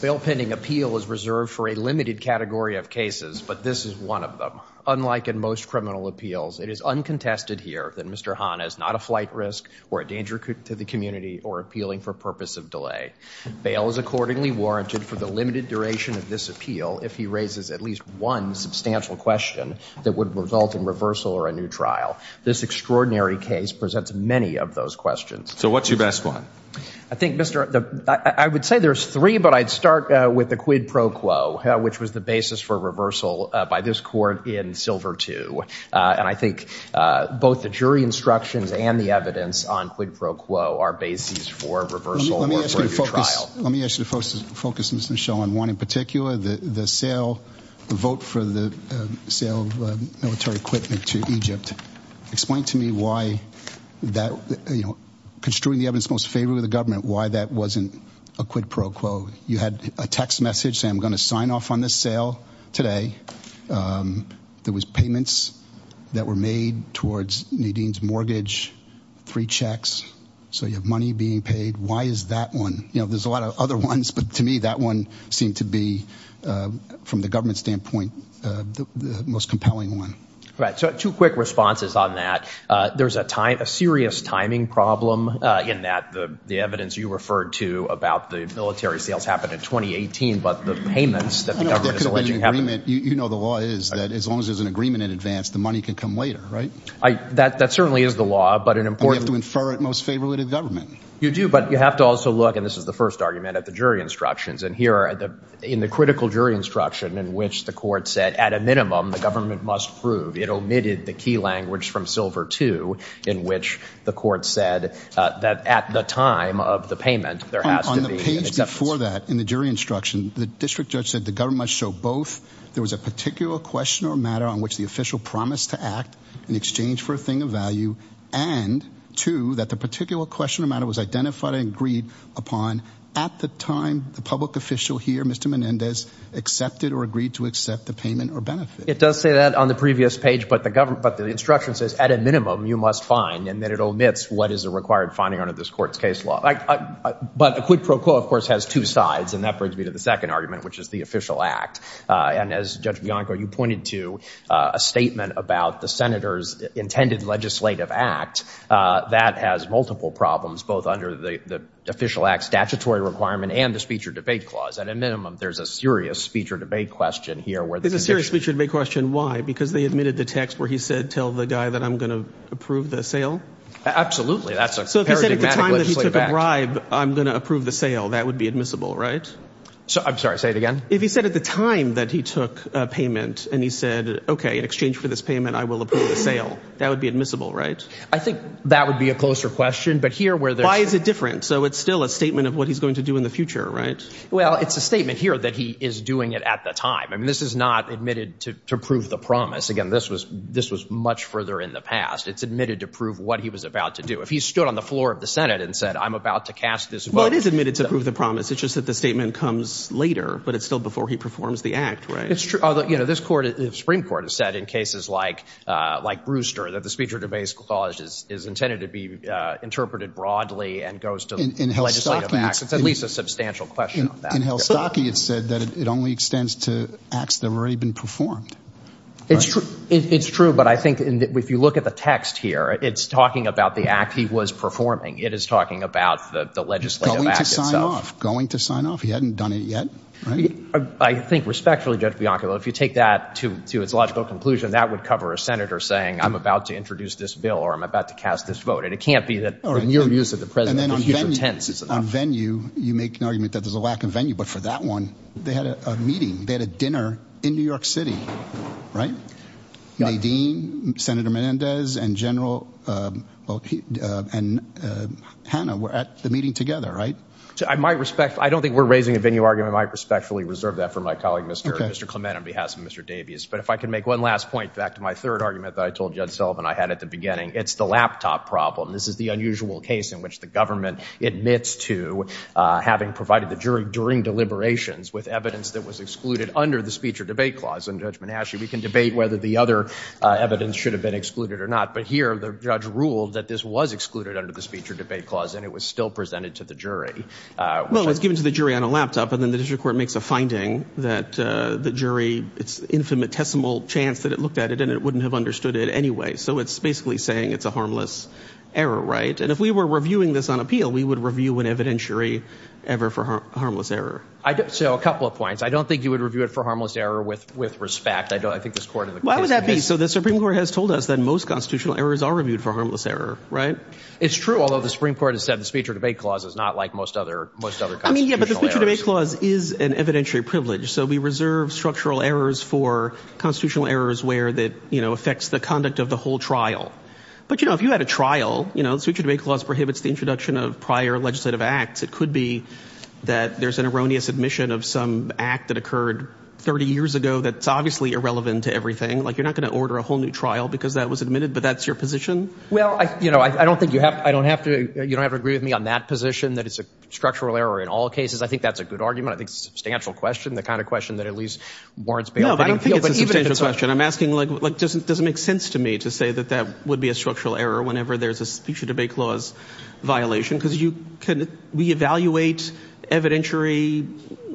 Bail pending appeal is reserved for a limited category of cases, but this is one of them. Unlike in most criminal appeals, it is uncontested here that Mr. Hanna is not a flight risk or a danger to the community or appealing for purpose of delay. Bail is accordingly warranted for the limited duration of this appeal if he raises at least one substantial question that would result in reversal or a new trial. This extraordinary case presents many of those questions. So what's your best one? I think, Mr. I would say there's three, but I'd start with the quid pro quo, which was the basis for reversal by this court in Silver II. And I think both the jury instructions and the evidence on quid pro quo are bases for reversal or for a new trial. Let me ask you to focus on one in particular, the sale, the vote for the sale of military equipment to Egypt. Explain to me why that, you know, construing the evidence most favorably the government, why that wasn't a quid pro quo. You had a text message saying, I'm going to sign off on this sale today. There was payments that were made towards Nadine's mortgage, three checks. So you have money being paid. Why is that one? You know, there's a lot of other ones, but to me, that one seemed to be from the government standpoint, the most compelling one. Right. So two quick responses on that. There's a time, a serious timing problem in that the evidence you referred to about the military sales happened in 2018, but the payments that the government is alleging happened. I know there could have been an agreement. You know the law is that as long as there's an agreement in advance, the money can come later, right? That certainly is the law, but an important... And you have to infer it most favorably to the government. You do, but you have to also look, and this is the first argument, at the jury instructions. And here in the critical jury instruction in which the court said, at a minimum, the government must prove, it omitted the key language from silver two in which the court said that at the time of the payment, there has to be... On the page before that in the jury instruction, the district judge said the government must show both. There was a particular question or matter on which the official promised to act in exchange for a thing of value, and two, that the particular question or matter was identified and agreed upon at the time the public official here, Mr. Menendez, accepted or agreed to accept the payment or benefit. It does say that on the previous page, but the instruction says, at a minimum, you must find, and that it omits what is a required finding under this court's case law. But a quid pro quo, of course, has two sides, and that brings me to the second argument, which is the official act. And as Judge Bianco, you pointed to a statement about the senator's intended legislative act that has multiple problems, both under the official act statutory requirement and the speech or debate clause. At a minimum, there's a serious speech or debate question here where... There's a serious speech or debate question. Why? Because they omitted the text where he said, tell the guy that I'm going to approve the sale? Absolutely. That's a paradigmatically... So if he said at the time that he took a bribe, I'm going to approve the sale, that would be admissible, right? I'm sorry, say it again? If he said at the time that he took a payment, and he said, okay, in exchange for this payment, I will approve the sale, that would be admissible, right? I think that would be a closer question, but here where there's... Why is it different? So it's still a statement of what he's going to do in the future, right? Well, it's a statement here that he is doing it at the time. I mean, this is not admitted to prove the promise. Again, this was much further in the past. It's admitted to prove what he was about to do. If he stood on the floor of the Senate and said, I'm about to cast this vote... Well, it is admitted to prove the promise. It's just that the statement comes later, but it's still before he performs the act, right? It's true. Although, you know, this Supreme Court has said in cases like Brewster that the speech or debase clause is intended to be interpreted broadly and goes to legislative acts. It's at least a substantial question on that. In Helstocki, it said that it only extends to acts that have already been performed. It's true, but I think if you look at the text here, it's talking about the act he was performing. It is talking about the legislative act itself. Going to sign off. Going to sign off. He hadn't done it yet, right? I think respectfully, Judge Bianco, if you take that to its logical conclusion, that would cover a senator saying, I'm about to introduce this bill or I'm about to cast this vote. And it can't be that... All right. In your views that the president... And then on venue, you make an argument that there's a lack of venue, but for that one, they had a meeting. They had a dinner in New York City, right? Nadine, Senator Menendez and General... And Hannah were at the meeting together, right? I might respect... I don't think we're raising a venue argument. I might respectfully reserve that for my colleague, Mr. Clement, on behalf of Mr. Davies. But if I can make one last point back to my third argument that I told Judge Sullivan I had at the beginning, it's the laptop problem. This is the unusual case in which the government admits to having provided the jury during deliberations with evidence that was excluded under the speech or debate clause. And Judge Menendez, we can debate whether the other evidence should have been excluded or not. But here, the judge ruled that this was excluded under the speech or debate clause, and it was still presented to the jury. Well, it's given to the jury on a laptop, and then the district court makes a finding that the jury... It's infinitesimal chance that it looked at it and it wouldn't have understood it anyway. So it's basically saying it's a harmless error, right? And if we were reviewing this on appeal, we would review an evidentiary ever for harmless error. So a couple of points. I don't think you would review it for harmless error with respect. I think this court in the case... So the Supreme Court has told us that most constitutional errors are reviewed for harmless error, right? It's true, although the Supreme Court has said the speech or debate clause is not like most other constitutional errors. I mean, yeah, but the speech or debate clause is an evidentiary privilege. So we reserve structural errors for constitutional errors where that affects the conduct of the whole trial. But if you had a trial, the speech or debate clause prohibits the introduction of prior legislative acts. It could be that there's an erroneous admission of some act that occurred 30 years ago that's obviously irrelevant to everything. You're not going to order a whole new trial because that was admitted, but that's your position? Well, you know, I don't think you have to agree with me on that position, that it's a structural error in all cases. I think that's a good argument. I think it's a substantial question, the kind of question that at least warrants bail. No, but I don't think it's a substantial question. I'm asking, like, does it make sense to me to say that that would be a structural error whenever there's a speech or debate clause violation? Because we evaluate evidentiary,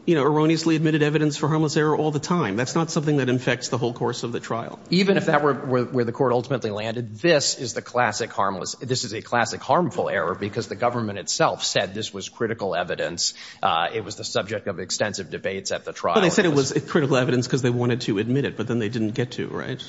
you know, erroneously admitted evidence for harmless error all the time. That's not something that affects the whole course of the trial. Even if that were where the court ultimately landed, this is a classic harmful error because the government itself said this was critical evidence. It was the subject of extensive debates at the trial. Well, they said it was critical evidence because they wanted to admit it, but then they didn't get to, right?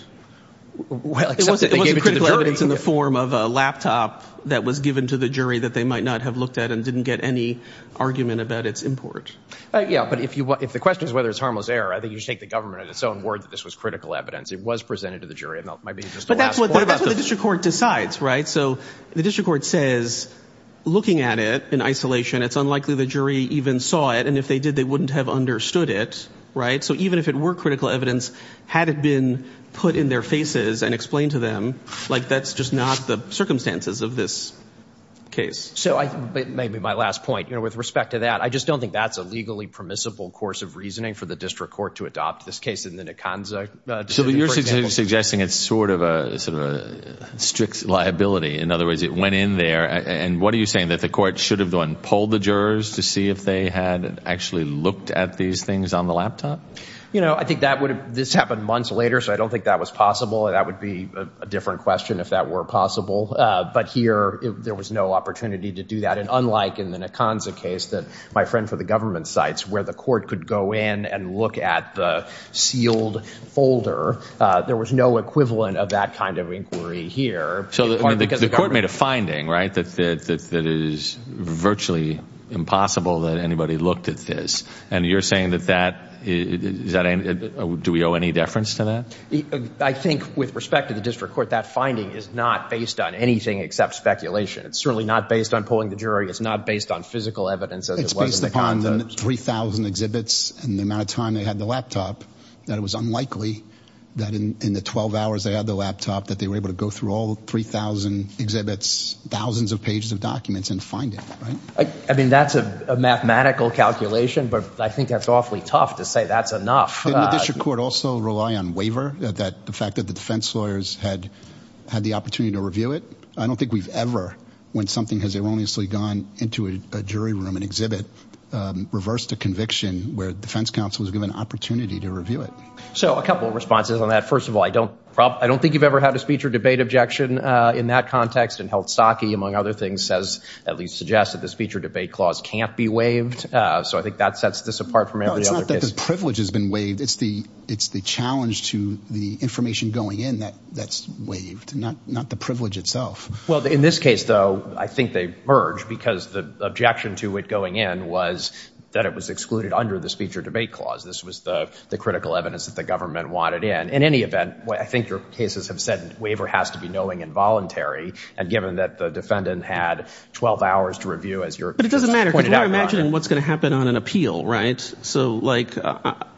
Well, except they gave it to the jury. It wasn't critical evidence in the form of a laptop that was given to the jury that they might not have looked at and didn't get any argument about its import. Yeah, but if the question is whether it's harmless error, I think you should take the But that's what the district court decides, right? So the district court says, looking at it in isolation, it's unlikely the jury even saw it, and if they did, they wouldn't have understood it, right? So even if it were critical evidence, had it been put in their faces and explained to them, like, that's just not the circumstances of this case. So maybe my last point, you know, with respect to that, I just don't think that's a legally permissible course of reasoning for the district court to adopt this case in the Nikonza case. So you're suggesting it's sort of a strict liability. In other words, it went in there, and what are you saying, that the court should have gone and polled the jurors to see if they had actually looked at these things on the laptop? You know, I think this happened months later, so I don't think that was possible. That would be a different question if that were possible. But here, there was no opportunity to do that. And unlike in the Nikonza case, that my friend for the government cites, where the court could go in and look at the sealed folder, there was no equivalent of that kind of inquiry here. So the court made a finding, right, that it is virtually impossible that anybody looked at this. And you're saying that that, do we owe any deference to that? I think, with respect to the district court, that finding is not based on anything except speculation. It's certainly not based on polling the jury. It's not based on physical evidence as it was in the Nikonza case. They had 3,000 exhibits, and the amount of time they had the laptop, that it was unlikely that in the 12 hours they had the laptop that they were able to go through all 3,000 exhibits, thousands of pages of documents, and find it, right? I mean, that's a mathematical calculation, but I think that's awfully tough to say that's enough. Didn't the district court also rely on waiver, the fact that the defense lawyers had the opportunity to review it? I don't think we've ever, when something has erroneously gone into a jury room, an exhibit, reversed a conviction where the defense counsel was given an opportunity to review it. So a couple of responses on that. First of all, I don't think you've ever had a speech or debate objection in that context. And Heldstocke, among other things, says, at least suggests that the speech or debate clause can't be waived. So I think that sets this apart from every other case. No, it's not that the privilege has been waived. It's the challenge to the information going in that's waived, not the privilege itself. Well, in this case, though, I think they merged, because the objection to it going in was that it was excluded under the speech or debate clause. This was the critical evidence that the government wanted in. In any event, I think your cases have said waiver has to be knowing and voluntary, and given that the defendant had 12 hours to review, as you're pointed out. But it doesn't matter, because we're imagining what's going to happen on an appeal, right? So, like,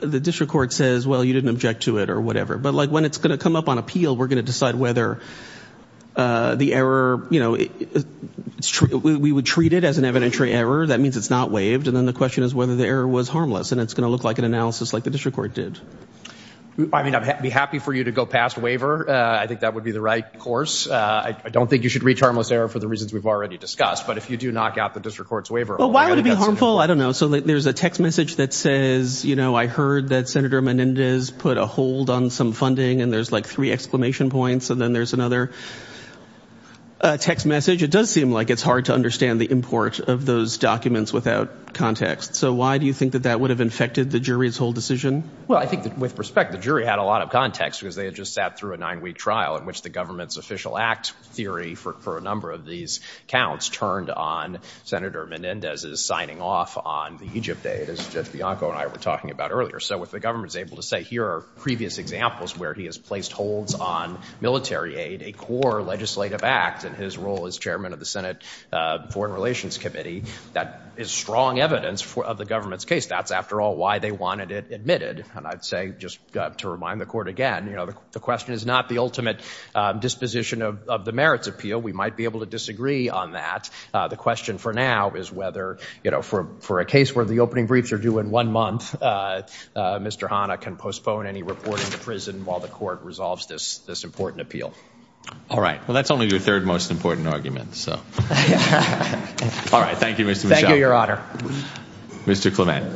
the district court says, well, you didn't object to it, or whatever. But, like, when it's going to come up on appeal, we're going to decide whether the error, you know, we would treat it as an evidentiary error. That means it's not waived. And then the question is whether the error was harmless. And it's going to look like an analysis like the district court did. I mean, I'd be happy for you to go past waiver. I think that would be the right course. I don't think you should reach harmless error for the reasons we've already discussed. But if you do knock out the district court's waiver... Well, why would it be harmful? I don't know. So there's a text message that says, you know, I heard that Senator Menendez put a hold on some funding. And there's, like, three exclamation points. And then there's another text message. It does seem like it's hard to understand the import of those documents without context. So why do you think that that would have infected the jury's whole decision? Well, I think that, with respect, the jury had a lot of context, because they had just sat through a nine-week trial in which the government's official act theory for a number of these counts turned on Senator Menendez's signing off on the Egypt aid, as Judge Bianco and I were talking about earlier. So if the government is able to say, here are previous examples where he has placed holds on military aid, a core legislative act, and his role as chairman of the Senate Foreign Relations Committee, that is strong evidence of the government's case. That's, after all, why they wanted it admitted. And I'd say, just to remind the court again, you know, the question is not the ultimate disposition of the merits appeal. We might be able to disagree on that. The question for now is whether, you know, for a case where the opening briefs are due in one month, Mr. Hanna can postpone any reporting to prison while the court resolves this important appeal. All right. Well, that's only your third most important argument, so. All right. Thank you, Mr. Michel. Thank you, Your Honor. Mr. Clement.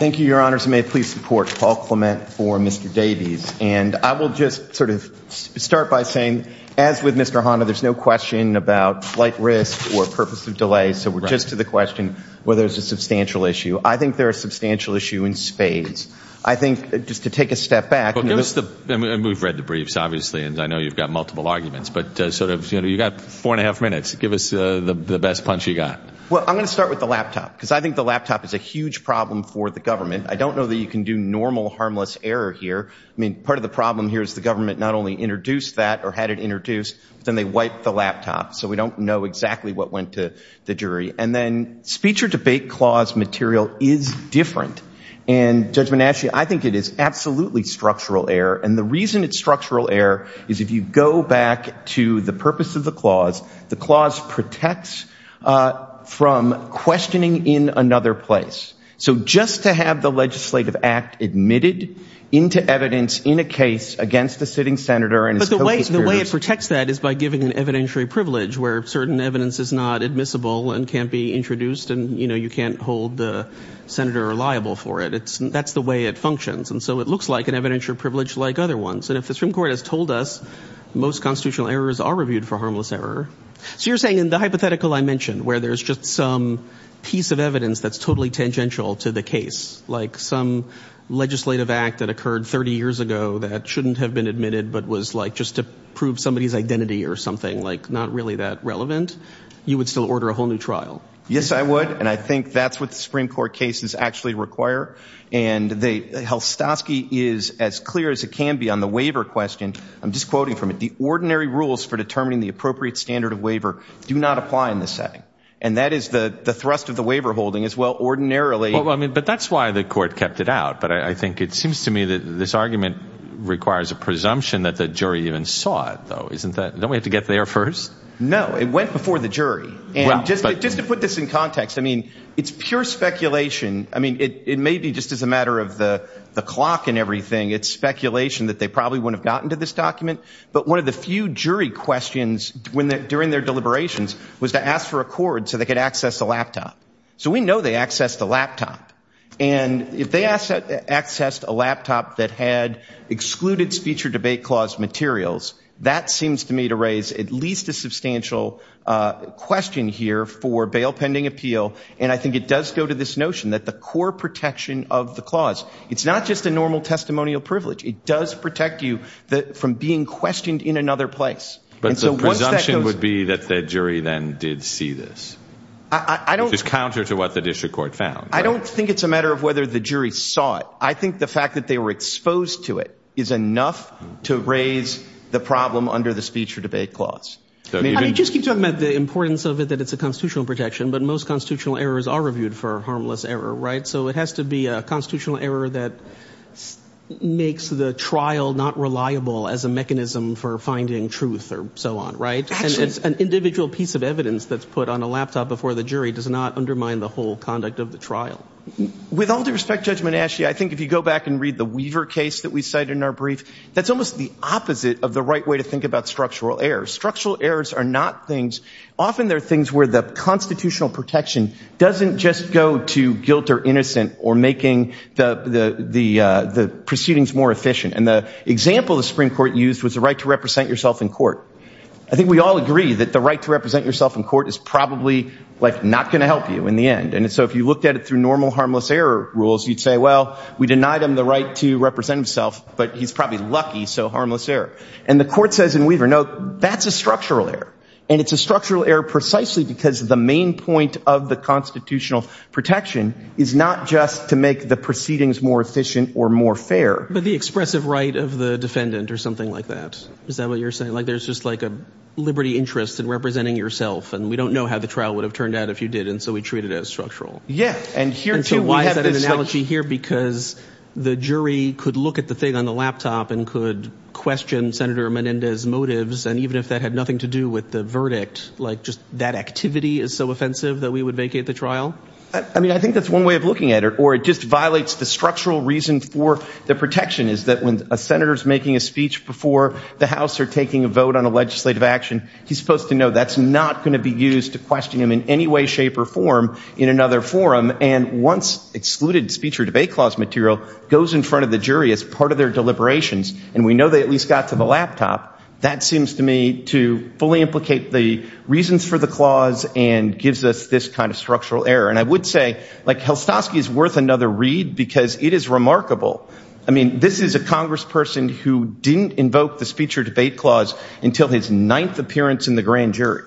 Thank you, Your Honors. May it please support Paul Clement for Mr. Davies. And I will just sort of start by saying, as with Mr. Hanna, there's no question about flight risk or purpose of delay, so we're just to the question whether there's a substantial issue. I think there is a substantial issue in spades. I think, just to take a step back. Well, give us the, I mean, we've read the briefs, obviously, and I know you've got multiple arguments, but sort of, you know, you've got four and a half minutes. Give us the best punch you got. Well, I'm going to start with the laptop, because I think the laptop is a huge problem for the government. I don't know that you can do normal, harmless error here. I mean, part of the problem here is the government not only introduced that, or had it introduced, but then they wiped the laptop. So we don't know exactly what went to the jury. And then, speech or debate clause material is different. And, Judge Monashi, I think it is absolutely structural error. And the reason it's structural error is if you go back to the purpose of the clause, the clause protects from questioning in another place. So just to have the legislative act admitted into evidence in a case against a sitting senator and his co-conspirators. But the way it protects that is by giving an evidentiary privilege, where certain evidence is not admissible and can't be introduced, and, you know, you can't hold the senator liable for it. That's the way it functions. And so it looks like an evidentiary privilege like other ones. And if the Supreme Court has told us most constitutional errors are reviewed for harmless error, so you're saying in the hypothetical I mentioned, where there's just some piece of evidence that's totally tangential to the case, like some legislative act that occurred 30 years ago that shouldn't have been admitted, but was like just to prove somebody's identity or something, like not really that relevant, you would still order a whole new trial? Yes, I would. And I think that's what the Supreme Court cases actually require. And the Helstosky is as clear as it can be on the waiver question. I'm just quoting from it. The ordinary rules for determining the appropriate standard of waiver do not apply in this setting. And that is the thrust of the waiver holding is, well, ordinarily Well, I mean, but that's why the court kept it out. But I think it seems to me that this argument requires a presumption that the jury even saw it, though, isn't that? Don't we have to get there first? No, it went before the jury. And just to put this in context, I mean, it's pure speculation. I mean, it may be just as a matter of the clock and everything. It's speculation that they probably wouldn't have gotten to this document. But one of the few jury questions during their deliberations was to ask for a cord so they could access the laptop. So we know they accessed the laptop. And if they accessed a laptop that had excluded speech or debate clause materials, that seems to me to raise at least a substantial question here for bail pending appeal. And I think it does go to this notion that the core protection of the clause, it's not just a normal testimonial privilege. It does protect you from being questioned in another place. But the presumption would be that the jury then did see this. I don't... Which is counter to what the district court found. I don't think it's a matter of whether the jury saw it. I think the fact that they were exposed to it is enough to raise the problem under the speech or debate clause. I mean, you just keep talking about the importance of it, that it's a constitutional protection, but most constitutional errors are reviewed for harmless error, right? So it has to be And it's an individual piece of evidence that's put on a laptop before the jury does not undermine the whole conduct of the trial. With all due respect, Judge Menasche, I think if you go back and read the Weaver case that we cited in our brief, that's almost the opposite of the right way to think about structural errors. Structural errors are not things, often they're things where the constitutional protection doesn't just go to guilt or innocent or making the proceedings more efficient. And the example the Supreme Court used was the right to represent yourself in court. I think we all agree that the right to represent yourself in court is probably not going to help you in the end. And so if you looked at it through normal harmless error rules, you'd say, well, we denied him the right to represent himself, but he's probably lucky, so harmless error. And the court says in Weaver, no, that's a structural error. And it's a structural error precisely because the main point of the constitutional protection is not just to make the proceedings more efficient or more fair. But the expressive right of the defendant or something like that. Is that what you're saying? Like there's just like a liberty interest in representing yourself. And we don't know how the trial would have turned out if you did. And so we treat it as structural. Yeah. And here, too, we have this analogy here because the jury could look at the thing on the laptop and could question Senator Menendez motives. And even if that had nothing to do with the verdict, like just that activity is so offensive that we would vacate the trial. I mean, I think that's one way of looking at it. Or it just violates the structural reason for the protection is that when a senator is making a speech before the House or taking a vote on a legislative action, he's supposed to know that's not going to be used to question him in any way, shape or form in another forum. And once excluded speech or debate clause material goes in front of the jury as part of their deliberations, and we know they at least got to the laptop, that seems to me to fully implicate the reasons for the clause and gives us this kind of structural error. And I would say like Helstowski is worth another read because it is remarkable. I mean, this is a congressperson who didn't invoke the speech or debate clause until his ninth appearance in the grand jury.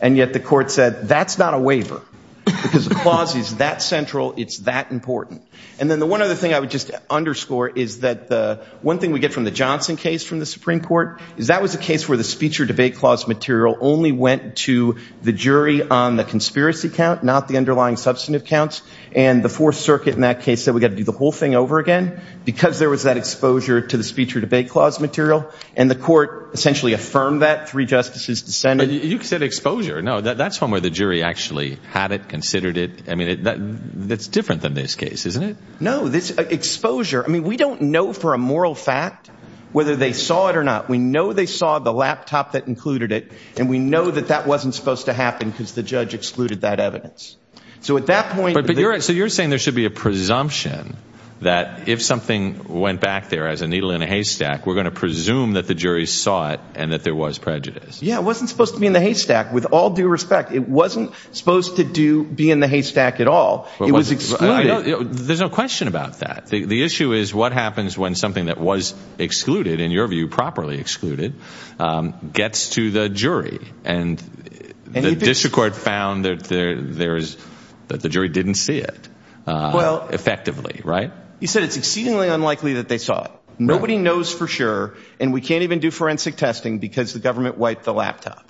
And yet the court said that's not a waiver because the clause is that central. It's that important. And then the one other thing I would just underscore is that the one thing we get from the Johnson case from the Supreme Court is that was a case where the speech or debate clause material only went to the jury on the substantive counts. And the Fourth Circuit in that case said we got to do the whole thing over again because there was that exposure to the speech or debate clause material. And the court essentially affirmed that. Three justices dissented. But you said exposure. No, that's one where the jury actually had it, considered it. I mean, that's different than this case, isn't it? No, this exposure. I mean, we don't know for a moral fact whether they saw it or not. We know they saw the laptop that included it. And we know that that wasn't supposed to happen because the judge excluded that evidence. So at that point. So you're saying there should be a presumption that if something went back there as a needle in a haystack, we're going to presume that the jury saw it and that there was prejudice. Yeah, it wasn't supposed to be in the haystack. With all due respect, it wasn't supposed to do be in the haystack at all. It was excluded. There's no question about that. The issue is what happens when something that was excluded in your view, properly excluded, gets to the jury and the district court found that there is that the jury didn't see it effectively. Right. You said it's exceedingly unlikely that they saw it. Nobody knows for sure. And we can't even do forensic testing because the government wiped the laptop.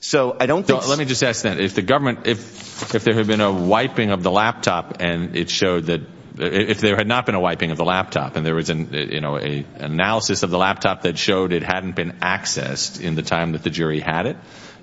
So I don't think. Let me just ask that if the government if if there had been a wiping of the laptop and it showed that if there had not been a wiping of the laptop and there was an analysis of the laptop that showed it hadn't been accessed in the time that the jury had it,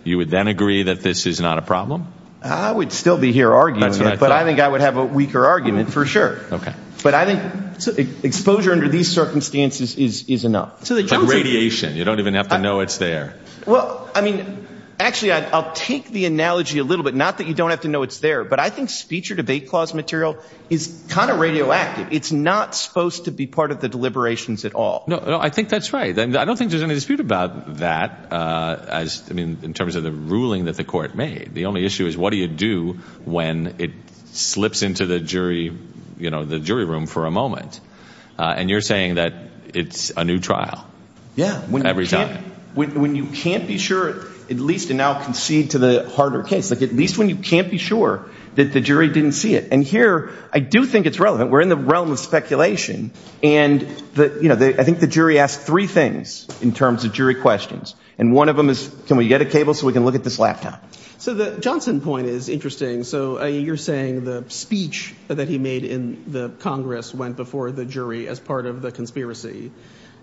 you would then agree that this is not a problem? I would still be here arguing, but I think I would have a weaker argument for sure. OK, but I think exposure under these circumstances is enough. So the radiation, you don't even have to know it's there. Well, I mean, actually, I'll take the analogy a little bit. Not that you don't have to know it's there, but I think speech or debate clause material is kind of radioactive. It's not supposed to be part of the deliberations at all. No, I think that's right. I don't think there's any dispute about that. As I mean, in terms of the ruling that the court made, the only issue is what do you do when it slips into the jury, you know, the jury room for a moment? And you're saying that it's a new trial. Yeah. When every time when you can't be sure, at least now concede to the harder case, like at least when you can't be sure that the jury didn't see it. And here I do think it's relevant. We're in the realm of speculation. And I think the jury asked three things in terms of jury questions. And one of them is, can we get a cable so we can look at this laptop? So the Johnson point is interesting. So you're saying the speech that he made in the Congress went before the jury as part of the conspiracy.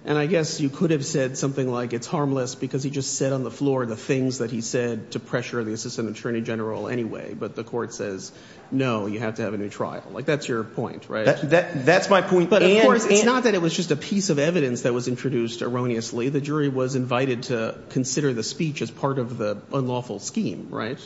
And I guess you could have said something like it's harmless because he just said on the floor the things that he said to pressure the assistant attorney general anyway. But the court says, no, you have to have a new trial. Like, that's your point, right? That's my point. But of course, it's not that it was just a piece of evidence that was introduced erroneously. The jury was invited to consider the speech as part of the unlawful scheme, right?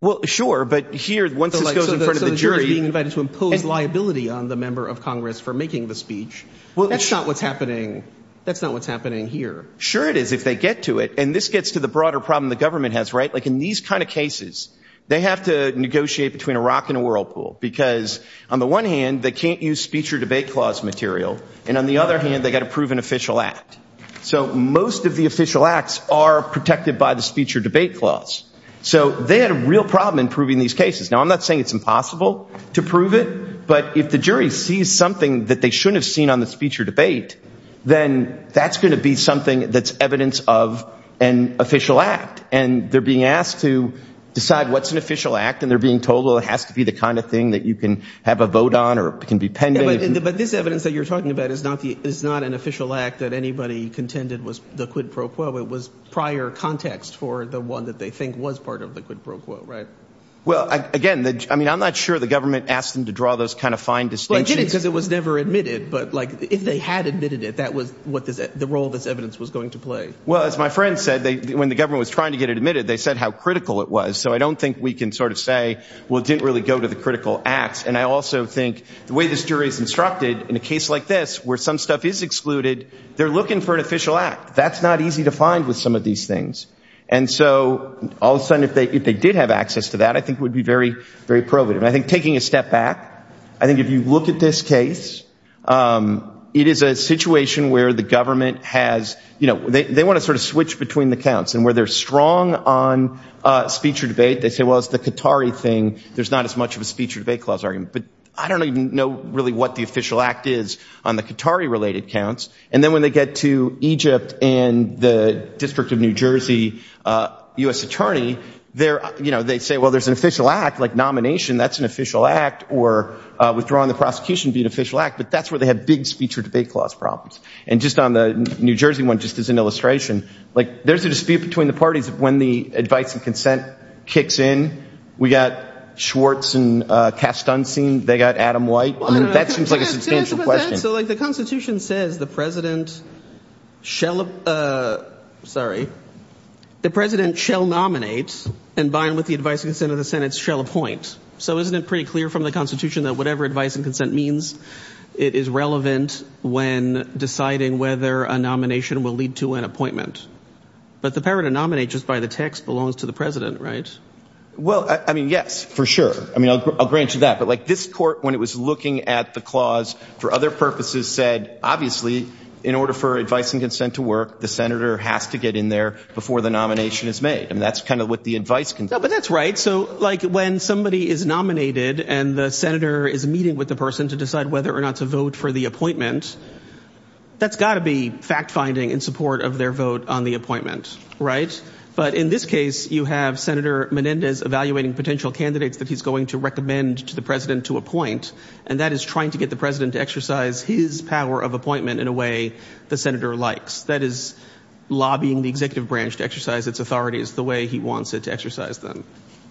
Well, sure. But here, once this goes in front of the jury. So the jury is being invited to impose liability on the member of Congress for making the speech. That's not what's happening. That's not what's happening here. Sure it is if they get to it. And this gets to the broader problem the government has, right? Like in these kind of cases, they have to negotiate between a rock and a whirlpool. Because on the one hand, they can't use speech or debate clause material. And on the other hand, they've got to prove an official act. So most of the official acts are protected by the speech or debate clause. So they had a real problem in proving these cases. Now, I'm not saying it's impossible to prove it. But if the jury sees something that they shouldn't have seen on the speech or debate, then that's going to be something that's evidence of an official act. And they're being asked to decide what's an official act. And they're being told, well, it has to be the kind of thing that you can have a vote on or can be pending. But this evidence that you're talking about is not an official act that anybody contended was the quid pro quo. It was prior context for the one that they think was part of the quid pro quo, right? Well, again, I mean, I'm not sure the government asked them to draw those kind of fine distinctions. Well, it did because it was never admitted. But, like, if they had admitted it, that was what the role of this evidence was going to play. Well, as my friend said, when the government was trying to get it admitted, they said how critical it was. So I don't think we can sort of say, well, it didn't really go to the critical acts. And I also think the way this jury is instructed in a case like this where some stuff is excluded, they're looking for an official act. That's not easy to find with some of these things. And so all of a sudden, if they did have access to that, I think it would be very, very probative. And I think taking a step back, I think if you look at this case, it is a situation where the government has, you know, they want to sort of switch between the counts. And where they're strong on speech or debate, they say, well, it's the Qatari thing. There's not as much of a speech or debate clause argument. But I don't even know really what the official act is on the Qatari-related counts. And then when they get to Egypt and the District of New Jersey U.S. attorney, they're, you know, they say, well, there's an official act, like nomination, that's an official act, or withdrawing the prosecution would be an official act. But that's where they have big speech or debate clause problems. And just on the New Jersey one, just as an illustration, like there's a dispute between the parties when the advice and consent kicks in. We got Schwartz and Kastansky. They got Adam White. I mean, that seems like a substantial question. So like the Constitution says the president shall, sorry, the president shall nominate and bind with the advice and consent of the Senate shall appoint. So isn't it pretty clear from the Constitution that whatever advice and consent means, it is relevant when deciding whether a nomination will lead to an appointment. But the power to nominate just by the text belongs to the president, right? Well, I mean, yes, for sure. I mean, I'll grant you that. But like this court, when it was looking at the clause for other purposes, said, obviously, in order for advice and consent to work, the senator has to get in there before the nomination is made. And that's kind of what the advice can do. But that's right. So like when somebody is nominated and the senator is meeting with the person to decide whether or not to vote for the appointment, that's got to be fact finding in support of their vote on the appointment. Right. But in this case, you have Senator Menendez evaluating potential candidates that he's going to recommend to the president to appoint. And that is trying to get the president to exercise his power of appointment in a way the senator likes. That is lobbying the executive branch to exercise its authorities the way he wants it to exercise them.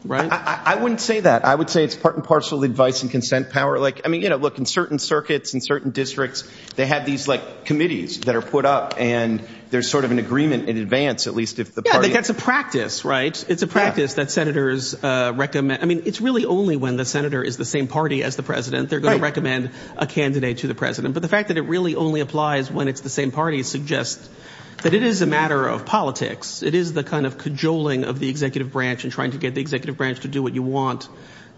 Right. I wouldn't say that. I would say it's part and parcel advice and consent power. Like, I mean, you know, look, in certain circuits and certain districts, they have these like committees that are put up and there's sort of an agreement in advance, at least if the party gets a practice. Right. It's a practice that senators recommend. I mean, it's really only when the senator is the same party as the president. They're going to recommend a candidate to the president. But the fact that it really only applies when it's the same party suggests that it is a matter of politics. It is the kind of cajoling of the executive branch and trying to get the executive branch to do what you want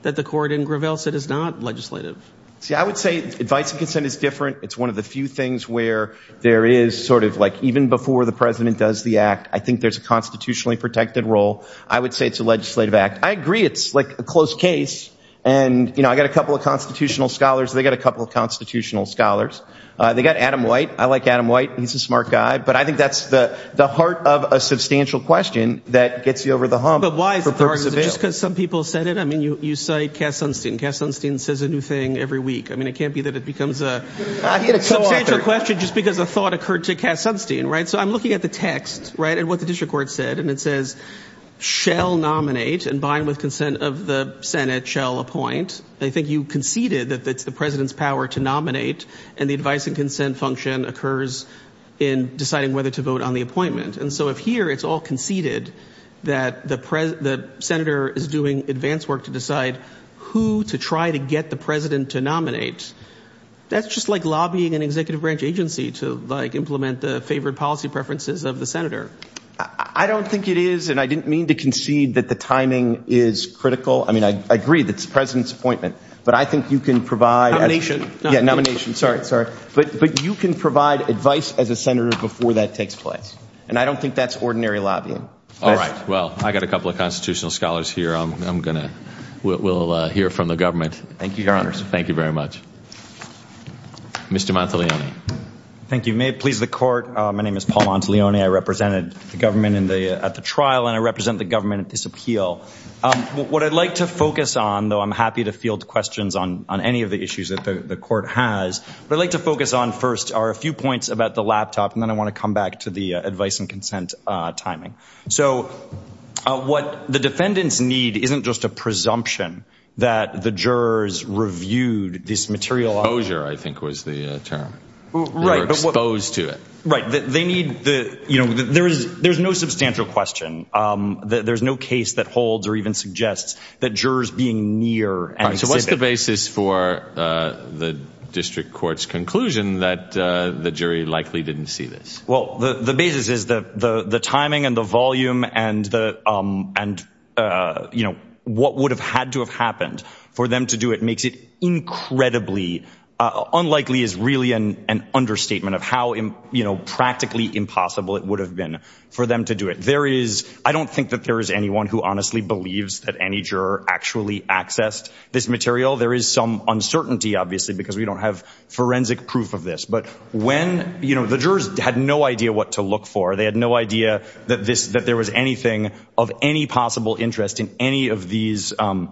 that the court in Gravel said is not legislative. See, I would say advice and consent is different. It's one of the few things where there is sort of like even before the president does the act, I think there's a constitutionally protected role. I would say it's a legislative act. I agree it's like a close case. And, you know, I got a couple of constitutional scholars. They got a couple of constitutional scholars. They got Adam White. I like Adam White. He's a smart guy. But I think that's the heart of a substantial question that gets you over the hump. But why is it just because some people said it? I mean, you cite Cass Sunstein. Cass Sunstein says a new thing every week. I mean, it can't be that it becomes a question just because a thought occurred to Cass Sunstein. So I'm looking at the text, right, and what the district court said. And it says, shall nominate and bind with consent of the Senate, shall appoint. I think you conceded that it's the president's power to nominate. And the advice and consent function occurs in deciding whether to vote on the appointment. And so if here it's all conceded that the senator is doing advanced work to decide who to try to get the president to nominate, that's just like lobbying an executive branch agency to implement the favored policy preferences of the senator. I don't think it is, and I didn't mean to concede that the timing is critical. I mean, I agree that it's the president's appointment. But I think you can provide— Yeah, nomination. Sorry, sorry. But you can provide advice as a senator before that takes place. And I don't think that's ordinary lobbying. All right. Well, I got a couple of constitutional scholars here. I'm going to—we'll hear from the government. Thank you, Your Honors. Thank you very much. Mr. Manteglione. Thank you. May it please the Court, my name is Paul Manteglione. I represented the government at the trial, and I represent the government at this appeal. What I'd like to focus on, though I'm happy to field questions on any of the issues that the Court has, what I'd like to focus on first are a few points about the laptop, and then I want to come back to the advice and consent timing. So what the defendants need isn't just a presumption that the jurors reviewed this material— Exposure, I think, was the term. Right. They were exposed to it. Right. They need the—you know, there's no substantial question. There's no case that holds or even suggests that jurors being near and specific. So what's the basis for the district court's conclusion that the jury likely didn't see this? Well, the basis is the timing and the volume and, you know, what would have had to have happened for them to do it makes it incredibly— unlikely is really an understatement of how, you know, practically impossible it would have been for them to do it. There is—I don't think that there is anyone who honestly believes that any juror actually accessed this material. There is some uncertainty, obviously, because we don't have forensic proof of this. But when—you know, the jurors had no idea what to look for. They had no idea that this—that there was anything of any possible interest in any of these—in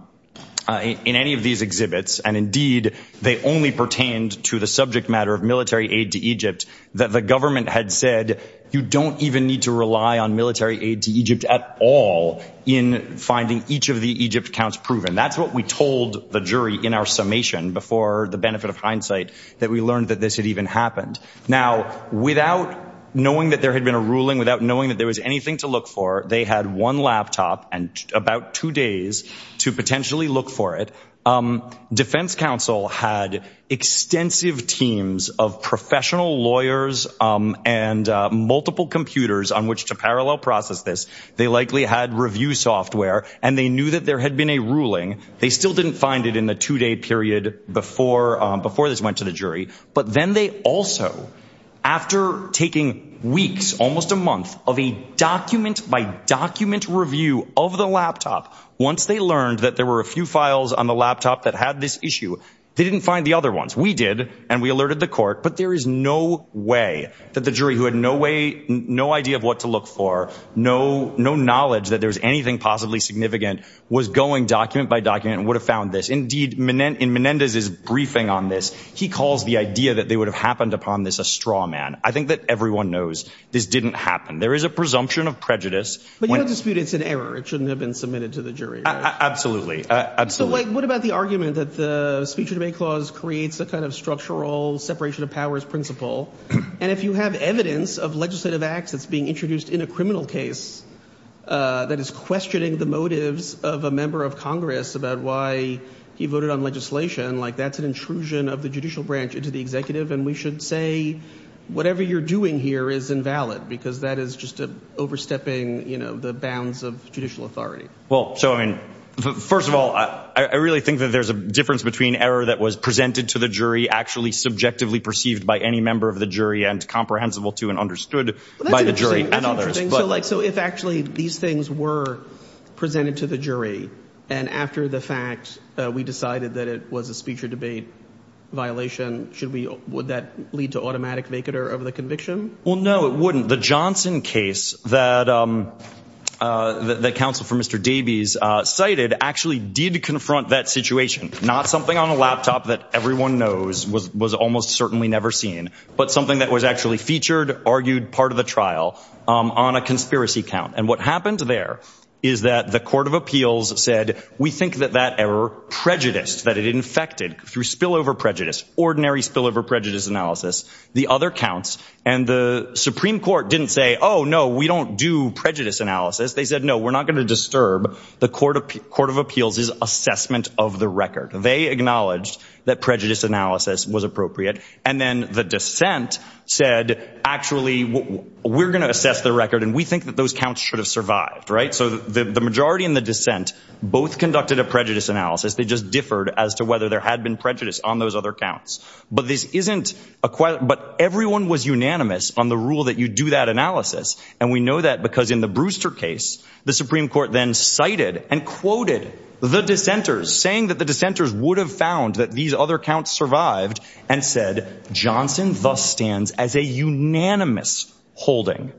any of these exhibits. And, indeed, they only pertained to the subject matter of military aid to Egypt that the government had said you don't even need to rely on military aid to Egypt at all in finding each of the Egypt counts proven. And that's what we told the jury in our summation before the benefit of hindsight that we learned that this had even happened. Now, without knowing that there had been a ruling, without knowing that there was anything to look for, they had one laptop and about two days to potentially look for it. Defense counsel had extensive teams of professional lawyers and multiple computers on which to parallel process this. They likely had review software, and they knew that there had been a ruling. They still didn't find it in the two-day period before this went to the jury. But then they also, after taking weeks, almost a month, of a document-by-document review of the laptop, once they learned that there were a few files on the laptop that had this issue, they didn't find the other ones. We did, and we alerted the court, but there is no way that the jury, who had no way, no idea of what to look for, no knowledge that there was anything possibly significant, was going document-by-document and would have found this. Indeed, in Menendez's briefing on this, he calls the idea that they would have happened upon this a straw man. I think that everyone knows this didn't happen. There is a presumption of prejudice. But you don't dispute it's an error. It shouldn't have been submitted to the jury, right? Absolutely. So what about the argument that the speech and debate clause creates a kind of structural separation of powers principle? And if you have evidence of legislative acts that's being introduced in a criminal case that is questioning the motives of a member of Congress about why he voted on legislation, that's an intrusion of the judicial branch into the executive. And we should say whatever you're doing here is invalid because that is just overstepping the bounds of judicial authority. Well, so I mean, first of all, I really think that there's a difference between error that was presented to the jury, actually subjectively perceived by any member of the jury and comprehensible to and understood by the jury and others. So if actually these things were presented to the jury and after the fact we decided that it was a speech or debate violation, would that lead to automatic vacater of the conviction? Well, no, it wouldn't. The Johnson case that the counsel for Mr. Davies cited actually did confront that situation. Not something on a laptop that everyone knows was almost certainly never seen, but something that was actually featured, argued part of the trial on a conspiracy count. And what happened there is that the Court of Appeals said, we think that that error prejudiced, that it infected through spillover prejudice, ordinary spillover prejudice analysis, the other counts. And the Supreme Court didn't say, oh, no, we don't do prejudice analysis. They said, no, we're not going to disturb. The Court of Court of Appeals is assessment of the record. They acknowledged that prejudice analysis was appropriate. And then the dissent said, actually, we're going to assess the record. And we think that those counts should have survived. Right. So the majority in the dissent both conducted a prejudice analysis. They just differed as to whether there had been prejudice on those other counts. But this isn't a quiet. But everyone was unanimous on the rule that you do that analysis. And we know that because in the Brewster case, the Supreme Court then cited and quoted the dissenters, saying that the dissenters would have found that these other counts survived and said Johnson thus stands as a unanimous holding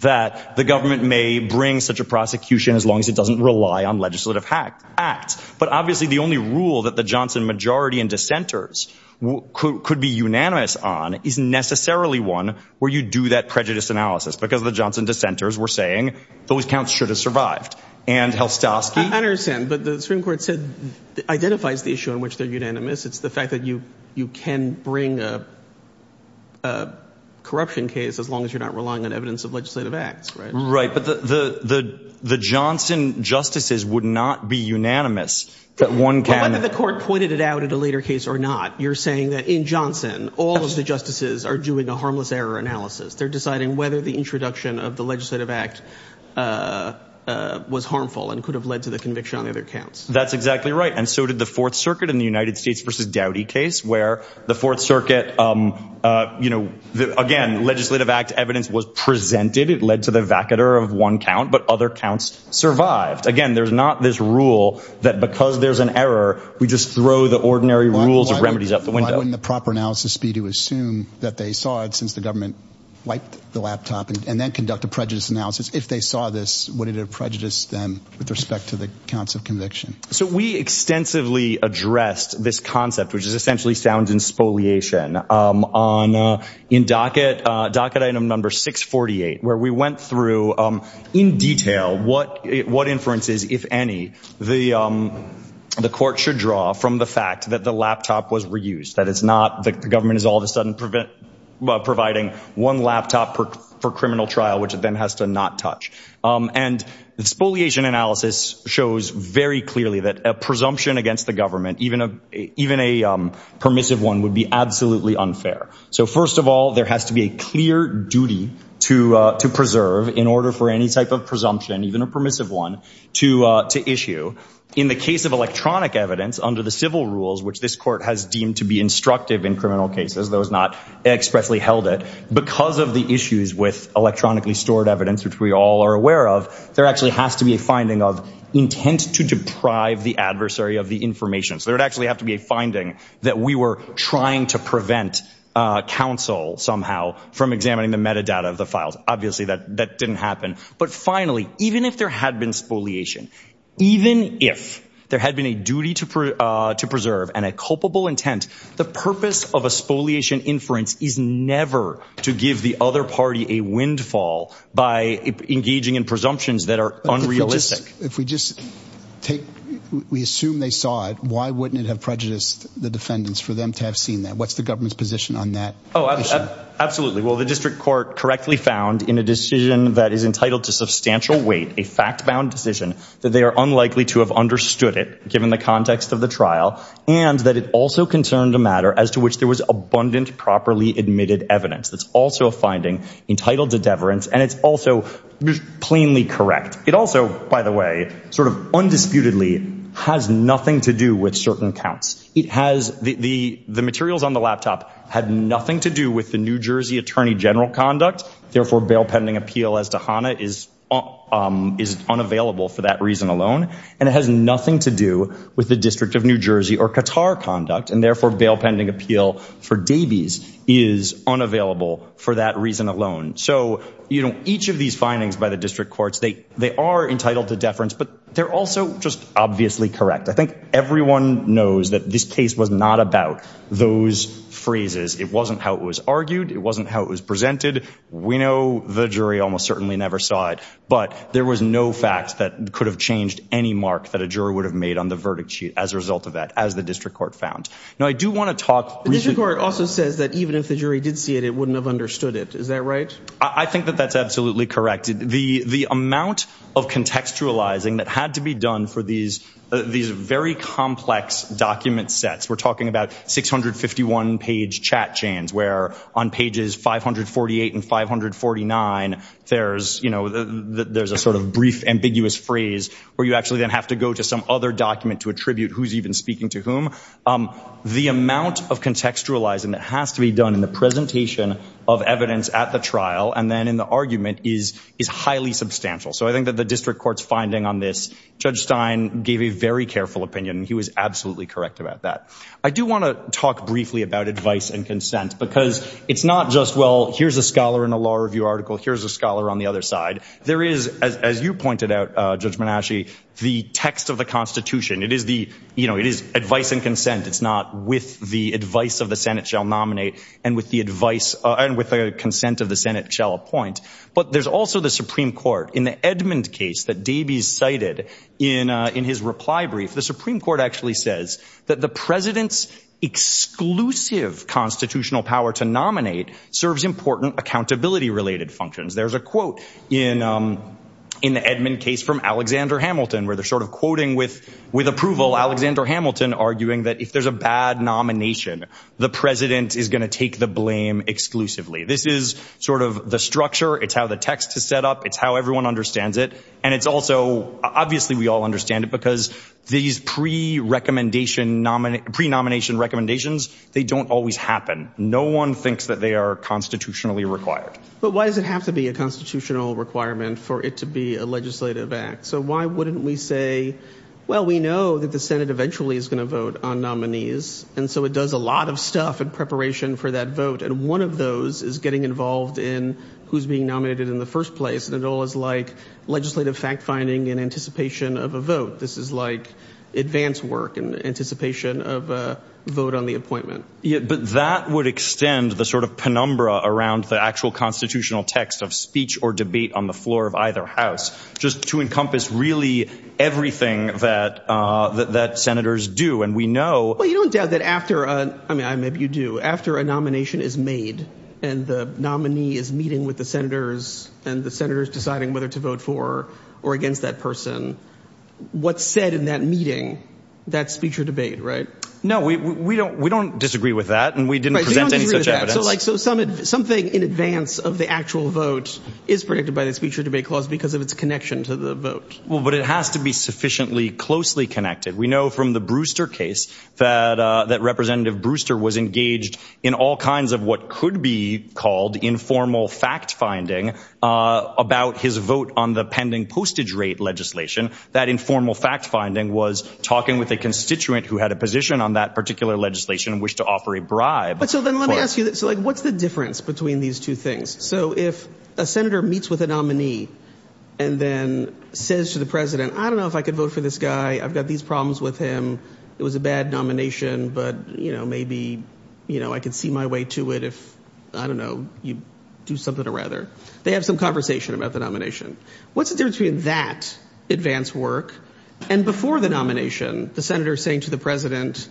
that the government may bring such a prosecution as long as it doesn't rely on legislative act. But obviously the only rule that the Johnson majority and dissenters could be unanimous on is necessarily one where you do that prejudice analysis because the Johnson dissenters were saying those counts should have survived. And Helstowski. I understand. But the Supreme Court said identifies the issue in which they're unanimous. It's the fact that you you can bring a corruption case as long as you're not relying on evidence of legislative acts. Right. But the the the Johnson justices would not be unanimous. But one can have the court pointed it out at a later case or not. You're saying that in Johnson, all of the justices are doing a harmless error analysis. They're deciding whether the introduction of the legislative act was harmful and could have led to the conviction of their counts. That's exactly right. And so did the Fourth Circuit in the United States versus Dowdy case where the Fourth Circuit, you know, again, legislative act evidence was presented. It led to the vacater of one count, but other counts survived. Again, there's not this rule that because there's an error, we just throw the ordinary rules of remedies up the window in the proper analysis speed to assume that they saw it since the government wiped the laptop and then conduct a prejudice analysis. If they saw this, what did it prejudice them with respect to the counts of conviction? So we extensively addressed this concept, which is essentially sounds in spoliation on in docket docket item number 648, where we went through in detail what what inferences, if any. The the court should draw from the fact that the laptop was reused, that it's not the government is all of a sudden prevent providing one laptop for criminal trial, which then has to not touch. And the spoliation analysis shows very clearly that a presumption against the government, even even a permissive one, would be absolutely unfair. So, first of all, there has to be a clear duty to to preserve in order for any type of presumption, even a permissive one to to issue in the case of electronic evidence under the civil rules, which this court has deemed to be instructive in criminal cases. Those not expressly held it because of the issues with electronically stored evidence, which we all are aware of. There actually has to be a finding of intent to deprive the adversary of the information. So there would actually have to be a finding that we were trying to prevent counsel somehow from examining the metadata of the files. Obviously, that that didn't happen. But finally, even if there had been spoliation, even if there had been a duty to to preserve and a culpable intent, the purpose of a spoliation inference is never to give the other party a windfall by engaging in presumptions that are unrealistic. If we just take we assume they saw it, why wouldn't it have prejudiced the defendants for them to have seen that? What's the government's position on that? Oh, absolutely. Well, the district court correctly found in a decision that is entitled to substantial weight, a fact bound decision that they are unlikely to have understood it given the context of the trial and that it also concerned a matter as to which there was abundant, properly admitted evidence. That's also a finding entitled to deference. And it's also plainly correct. It also, by the way, sort of undisputedly has nothing to do with certain counts. It has the the materials on the laptop had nothing to do with the New Jersey attorney general conduct. Therefore, bail pending appeal as to Hanna is is unavailable for that reason alone. And it has nothing to do with the District of New Jersey or Qatar conduct. And therefore, bail pending appeal for Davies is unavailable for that reason alone. So, you know, each of these findings by the district courts, they they are entitled to deference, but they're also just obviously correct. I think everyone knows that this case was not about those phrases. It wasn't how it was argued. It wasn't how it was presented. We know the jury almost certainly never saw it, but there was no facts that could have changed any mark that a juror would have made on the verdict sheet as a result of that, as the district court found. Now, I do want to talk. The district court also says that even if the jury did see it, it wouldn't have understood it. Is that right? I think that that's absolutely correct. The the amount of contextualizing that had to be done for these these very complex document sets. We're talking about six hundred fifty one page chat chains where on pages five hundred forty eight and five hundred forty nine. There's you know, there's a sort of brief, ambiguous phrase where you actually then have to go to some other document to attribute who's even speaking to whom. The amount of contextualizing that has to be done in the presentation of evidence at the trial and then in the argument is is highly substantial. So I think that the district court's finding on this, Judge Stein gave a very careful opinion. He was absolutely correct about that. I do want to talk briefly about advice and consent, because it's not just, well, here's a scholar in a law review article. Here's a scholar on the other side. There is, as you pointed out, Judge Menasci, the text of the Constitution. It is the you know, it is advice and consent. It's not with the advice of the Senate shall nominate and with the advice and with the consent of the Senate shall appoint. But there's also the Supreme Court in the Edmund case that Dabies cited in in his reply brief. The Supreme Court actually says that the president's exclusive constitutional power to nominate serves important accountability related functions. There's a quote in in the Edmund case from Alexander Hamilton where they're sort of quoting with with approval. Alexander Hamilton arguing that if there's a bad nomination, the president is going to take the blame exclusively. This is sort of the structure. It's how the text is set up. It's how everyone understands it. And it's also obviously we all understand it because these pre recommendation nominee pre nomination recommendations, they don't always happen. No one thinks that they are constitutionally required. But why does it have to be a constitutional requirement for it to be a legislative act? So why wouldn't we say, well, we know that the Senate eventually is going to vote on nominees. And so it does a lot of stuff in preparation for that vote. And one of those is getting involved in who's being nominated in the first place. And it all is like legislative fact finding in anticipation of a vote. This is like advance work and anticipation of a vote on the appointment. But that would extend the sort of penumbra around the actual constitutional text of speech or debate on the floor of either house just to encompass really everything that that senators do. And we know you don't doubt that after. I mean, maybe you do after a nomination is made and the nominee is meeting with the senators and the senators deciding whether to vote for or against that person. What's said in that meeting, that speech or debate. Right. No, we don't. We don't disagree with that. And we didn't present any evidence. So something in advance of the actual vote is predicted by the speech or debate clause because of its connection to the vote. Well, but it has to be sufficiently closely connected. We know from the Brewster case that that Representative Brewster was engaged in all kinds of what could be called informal fact finding about his vote on the pending postage rate legislation. That informal fact finding was talking with a constituent who had a position on that particular legislation and wish to offer a bribe. But so then let me ask you, what's the difference between these two things? So if a senator meets with a nominee and then says to the president, I don't know if I could vote for this guy. I've got these problems with him. It was a bad nomination, but, you know, maybe, you know, I could see my way to it if I don't know, you do something or rather they have some conversation about the nomination. What's the difference between that advance work and before the nomination? The senator saying to the president,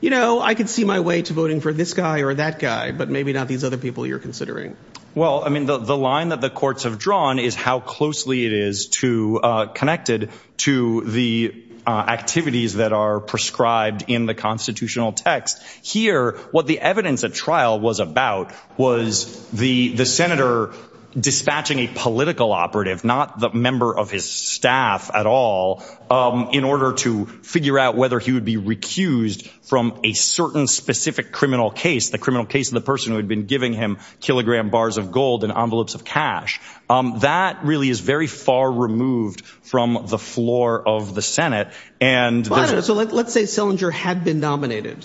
you know, I could see my way to voting for this guy or that guy, but maybe not these other people you're considering. Well, I mean, the line that the courts have drawn is how closely it is to connected to the activities that are prescribed in the constitutional text here. What the evidence at trial was about was the the senator dispatching a political operative, not the member of his staff at all, in order to figure out whether he would be recused from a certain specific criminal case. The criminal case of the person who had been giving him kilogram bars of gold and envelopes of cash that really is very far removed from the floor of the Senate. And so let's say Selinger had been nominated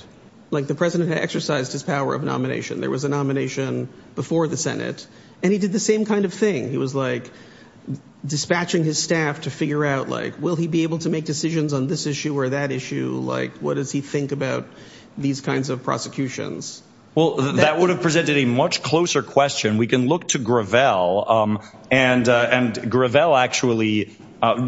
like the president exercised his power of nomination. There was a nomination before the Senate and he did the same kind of thing. He was like dispatching his staff to figure out, like, will he be able to make decisions on this issue or that issue? Like, what does he think about these kinds of prosecutions? Well, that would have presented a much closer question. We can look to Gravel and and Gravel actually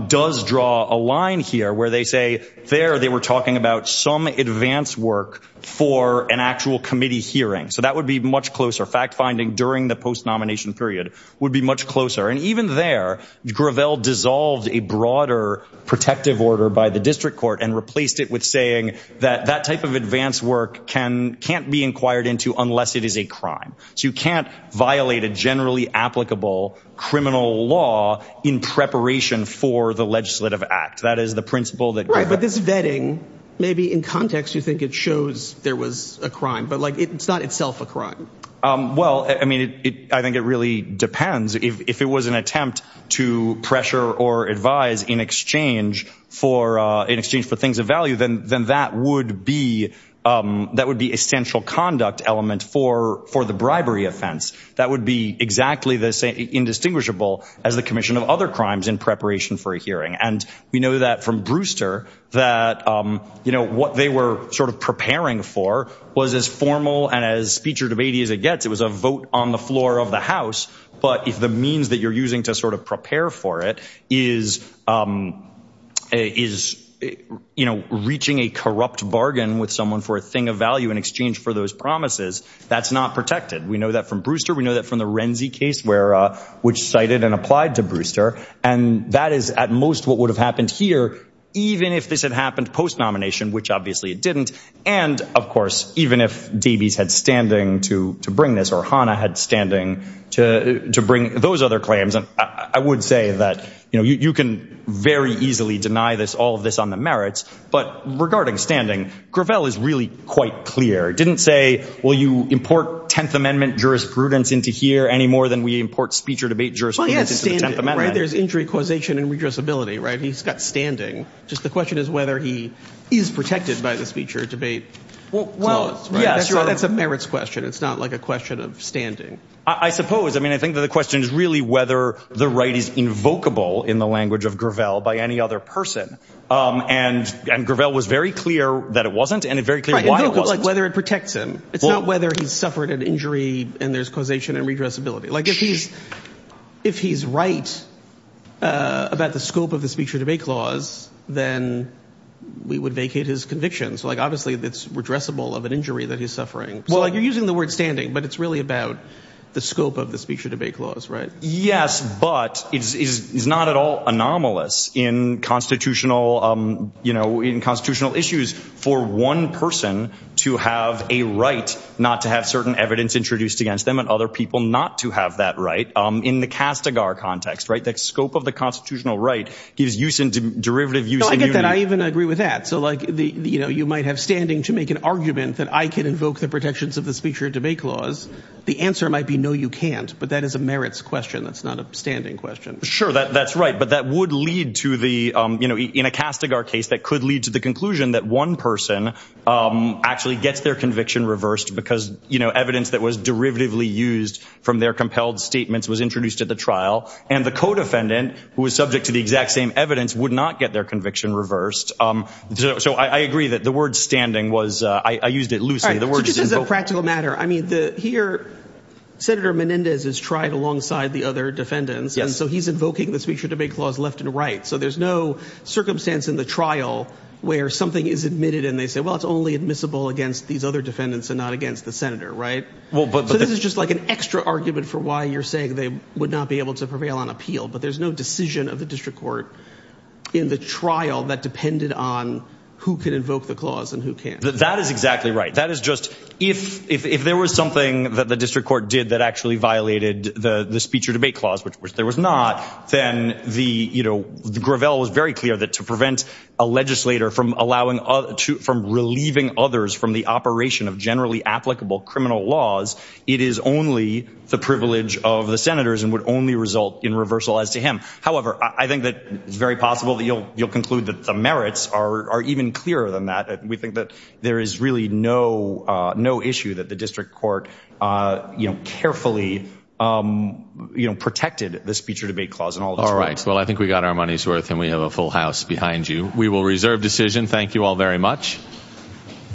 does draw a line here where they say there they were talking about some advance work for an actual committee hearing. So that would be much closer. Fact finding during the post nomination period would be much closer. And even there, Gravel dissolved a broader protective order by the district court and replaced it with saying that that type of advance work can can't be inquired into unless it is a crime. So you can't violate a generally applicable criminal law in preparation for the legislative act. That is the principle that this vetting may be in context. You think it shows there was a crime, but like it's not itself a crime. Well, I mean, I think it really depends if it was an attempt to pressure or advise in exchange for in exchange for things of value, then then that would be that would be essential conduct element for for the bribery offense. That would be exactly the same indistinguishable as the commission of other crimes in preparation for a hearing. And we know that from Brewster that, you know, what they were sort of preparing for was as formal and as speech or debate as it gets. It was a vote on the floor of the House. But if the means that you're using to sort of prepare for it is is, you know, reaching a corrupt bargain with someone for a thing of value in exchange for those promises, that's not protected. We know that from Brewster. We know that from the Renzi case where which cited and applied to Brewster. And that is at most what would have happened here, even if this had happened post nomination, which obviously it didn't. And, of course, even if Davies had standing to to bring this or Hanna had standing to to bring those other claims. And I would say that, you know, you can very easily deny this, all of this on the merits. But regarding standing, Gravel is really quite clear. Didn't say, well, you import 10th Amendment jurisprudence into here any more than we import speech or debate. Well, yes. Right. There's injury causation and redress ability. Right. He's got standing. Just the question is whether he is protected by the speech or debate. Well, yes. That's a merits question. It's not like a question of standing, I suppose. I mean, I think that the question is really whether the right is invocable in the language of Gravel by any other person. And Gravel was very clear that it wasn't and very clear why it was like whether it protects him. It's not whether he suffered an injury and there's causation and redress ability. Like if he's if he's right about the scope of the speech or debate clause, then we would vacate his convictions. Like, obviously, it's redressable of an injury that he's suffering. Well, you're using the word standing, but it's really about the scope of the speech or debate clause. Right. Yes. But it is not at all anomalous in constitutional, you know, in constitutional issues for one person to have a right not to have certain evidence introduced against them and other people not to have that right in the castigar context. Right. The scope of the constitutional right is use in derivative use. I get that. I even agree with that. So, like, you know, you might have standing to make an argument that I can invoke the protections of the speech or debate clause. The answer might be, no, you can't. But that is a merits question. That's not a standing question. Sure. That's right. But that would lead to the, you know, in a castigar case that could lead to the conclusion that one person actually gets their conviction reversed because, you know, evidence that was derivatively used from their compelled statements was introduced at the trial. And the codefendant, who was subject to the exact same evidence, would not get their conviction reversed. So I agree that the word standing was I used it loosely. Practical matter. I mean, here, Senator Menendez has tried alongside the other defendants. And so he's invoking the speech or debate clause left and right. So there's no circumstance in the trial where something is admitted. And they say, well, it's only admissible against these other defendants and not against the senator. Right. Well, but this is just like an extra argument for why you're saying they would not be able to prevail on appeal. But there's no decision of the district court in the trial that depended on who can invoke the clause and who can't. That is exactly right. That is just if if there was something that the district court did that actually violated the speech or debate clause, which there was not, then the, you know, Gravel was very clear that to prevent a legislator from allowing from relieving others from the operation of generally applicable criminal laws. It is only the privilege of the senators and would only result in reversal as to him. However, I think that it's very possible that you'll you'll conclude that the merits are even clearer than that. We think that there is really no no issue that the district court carefully protected the speech or debate clause and all. All right. Well, I think we got our money's worth and we have a full house behind you. We will reserve decision. Thank you all very much.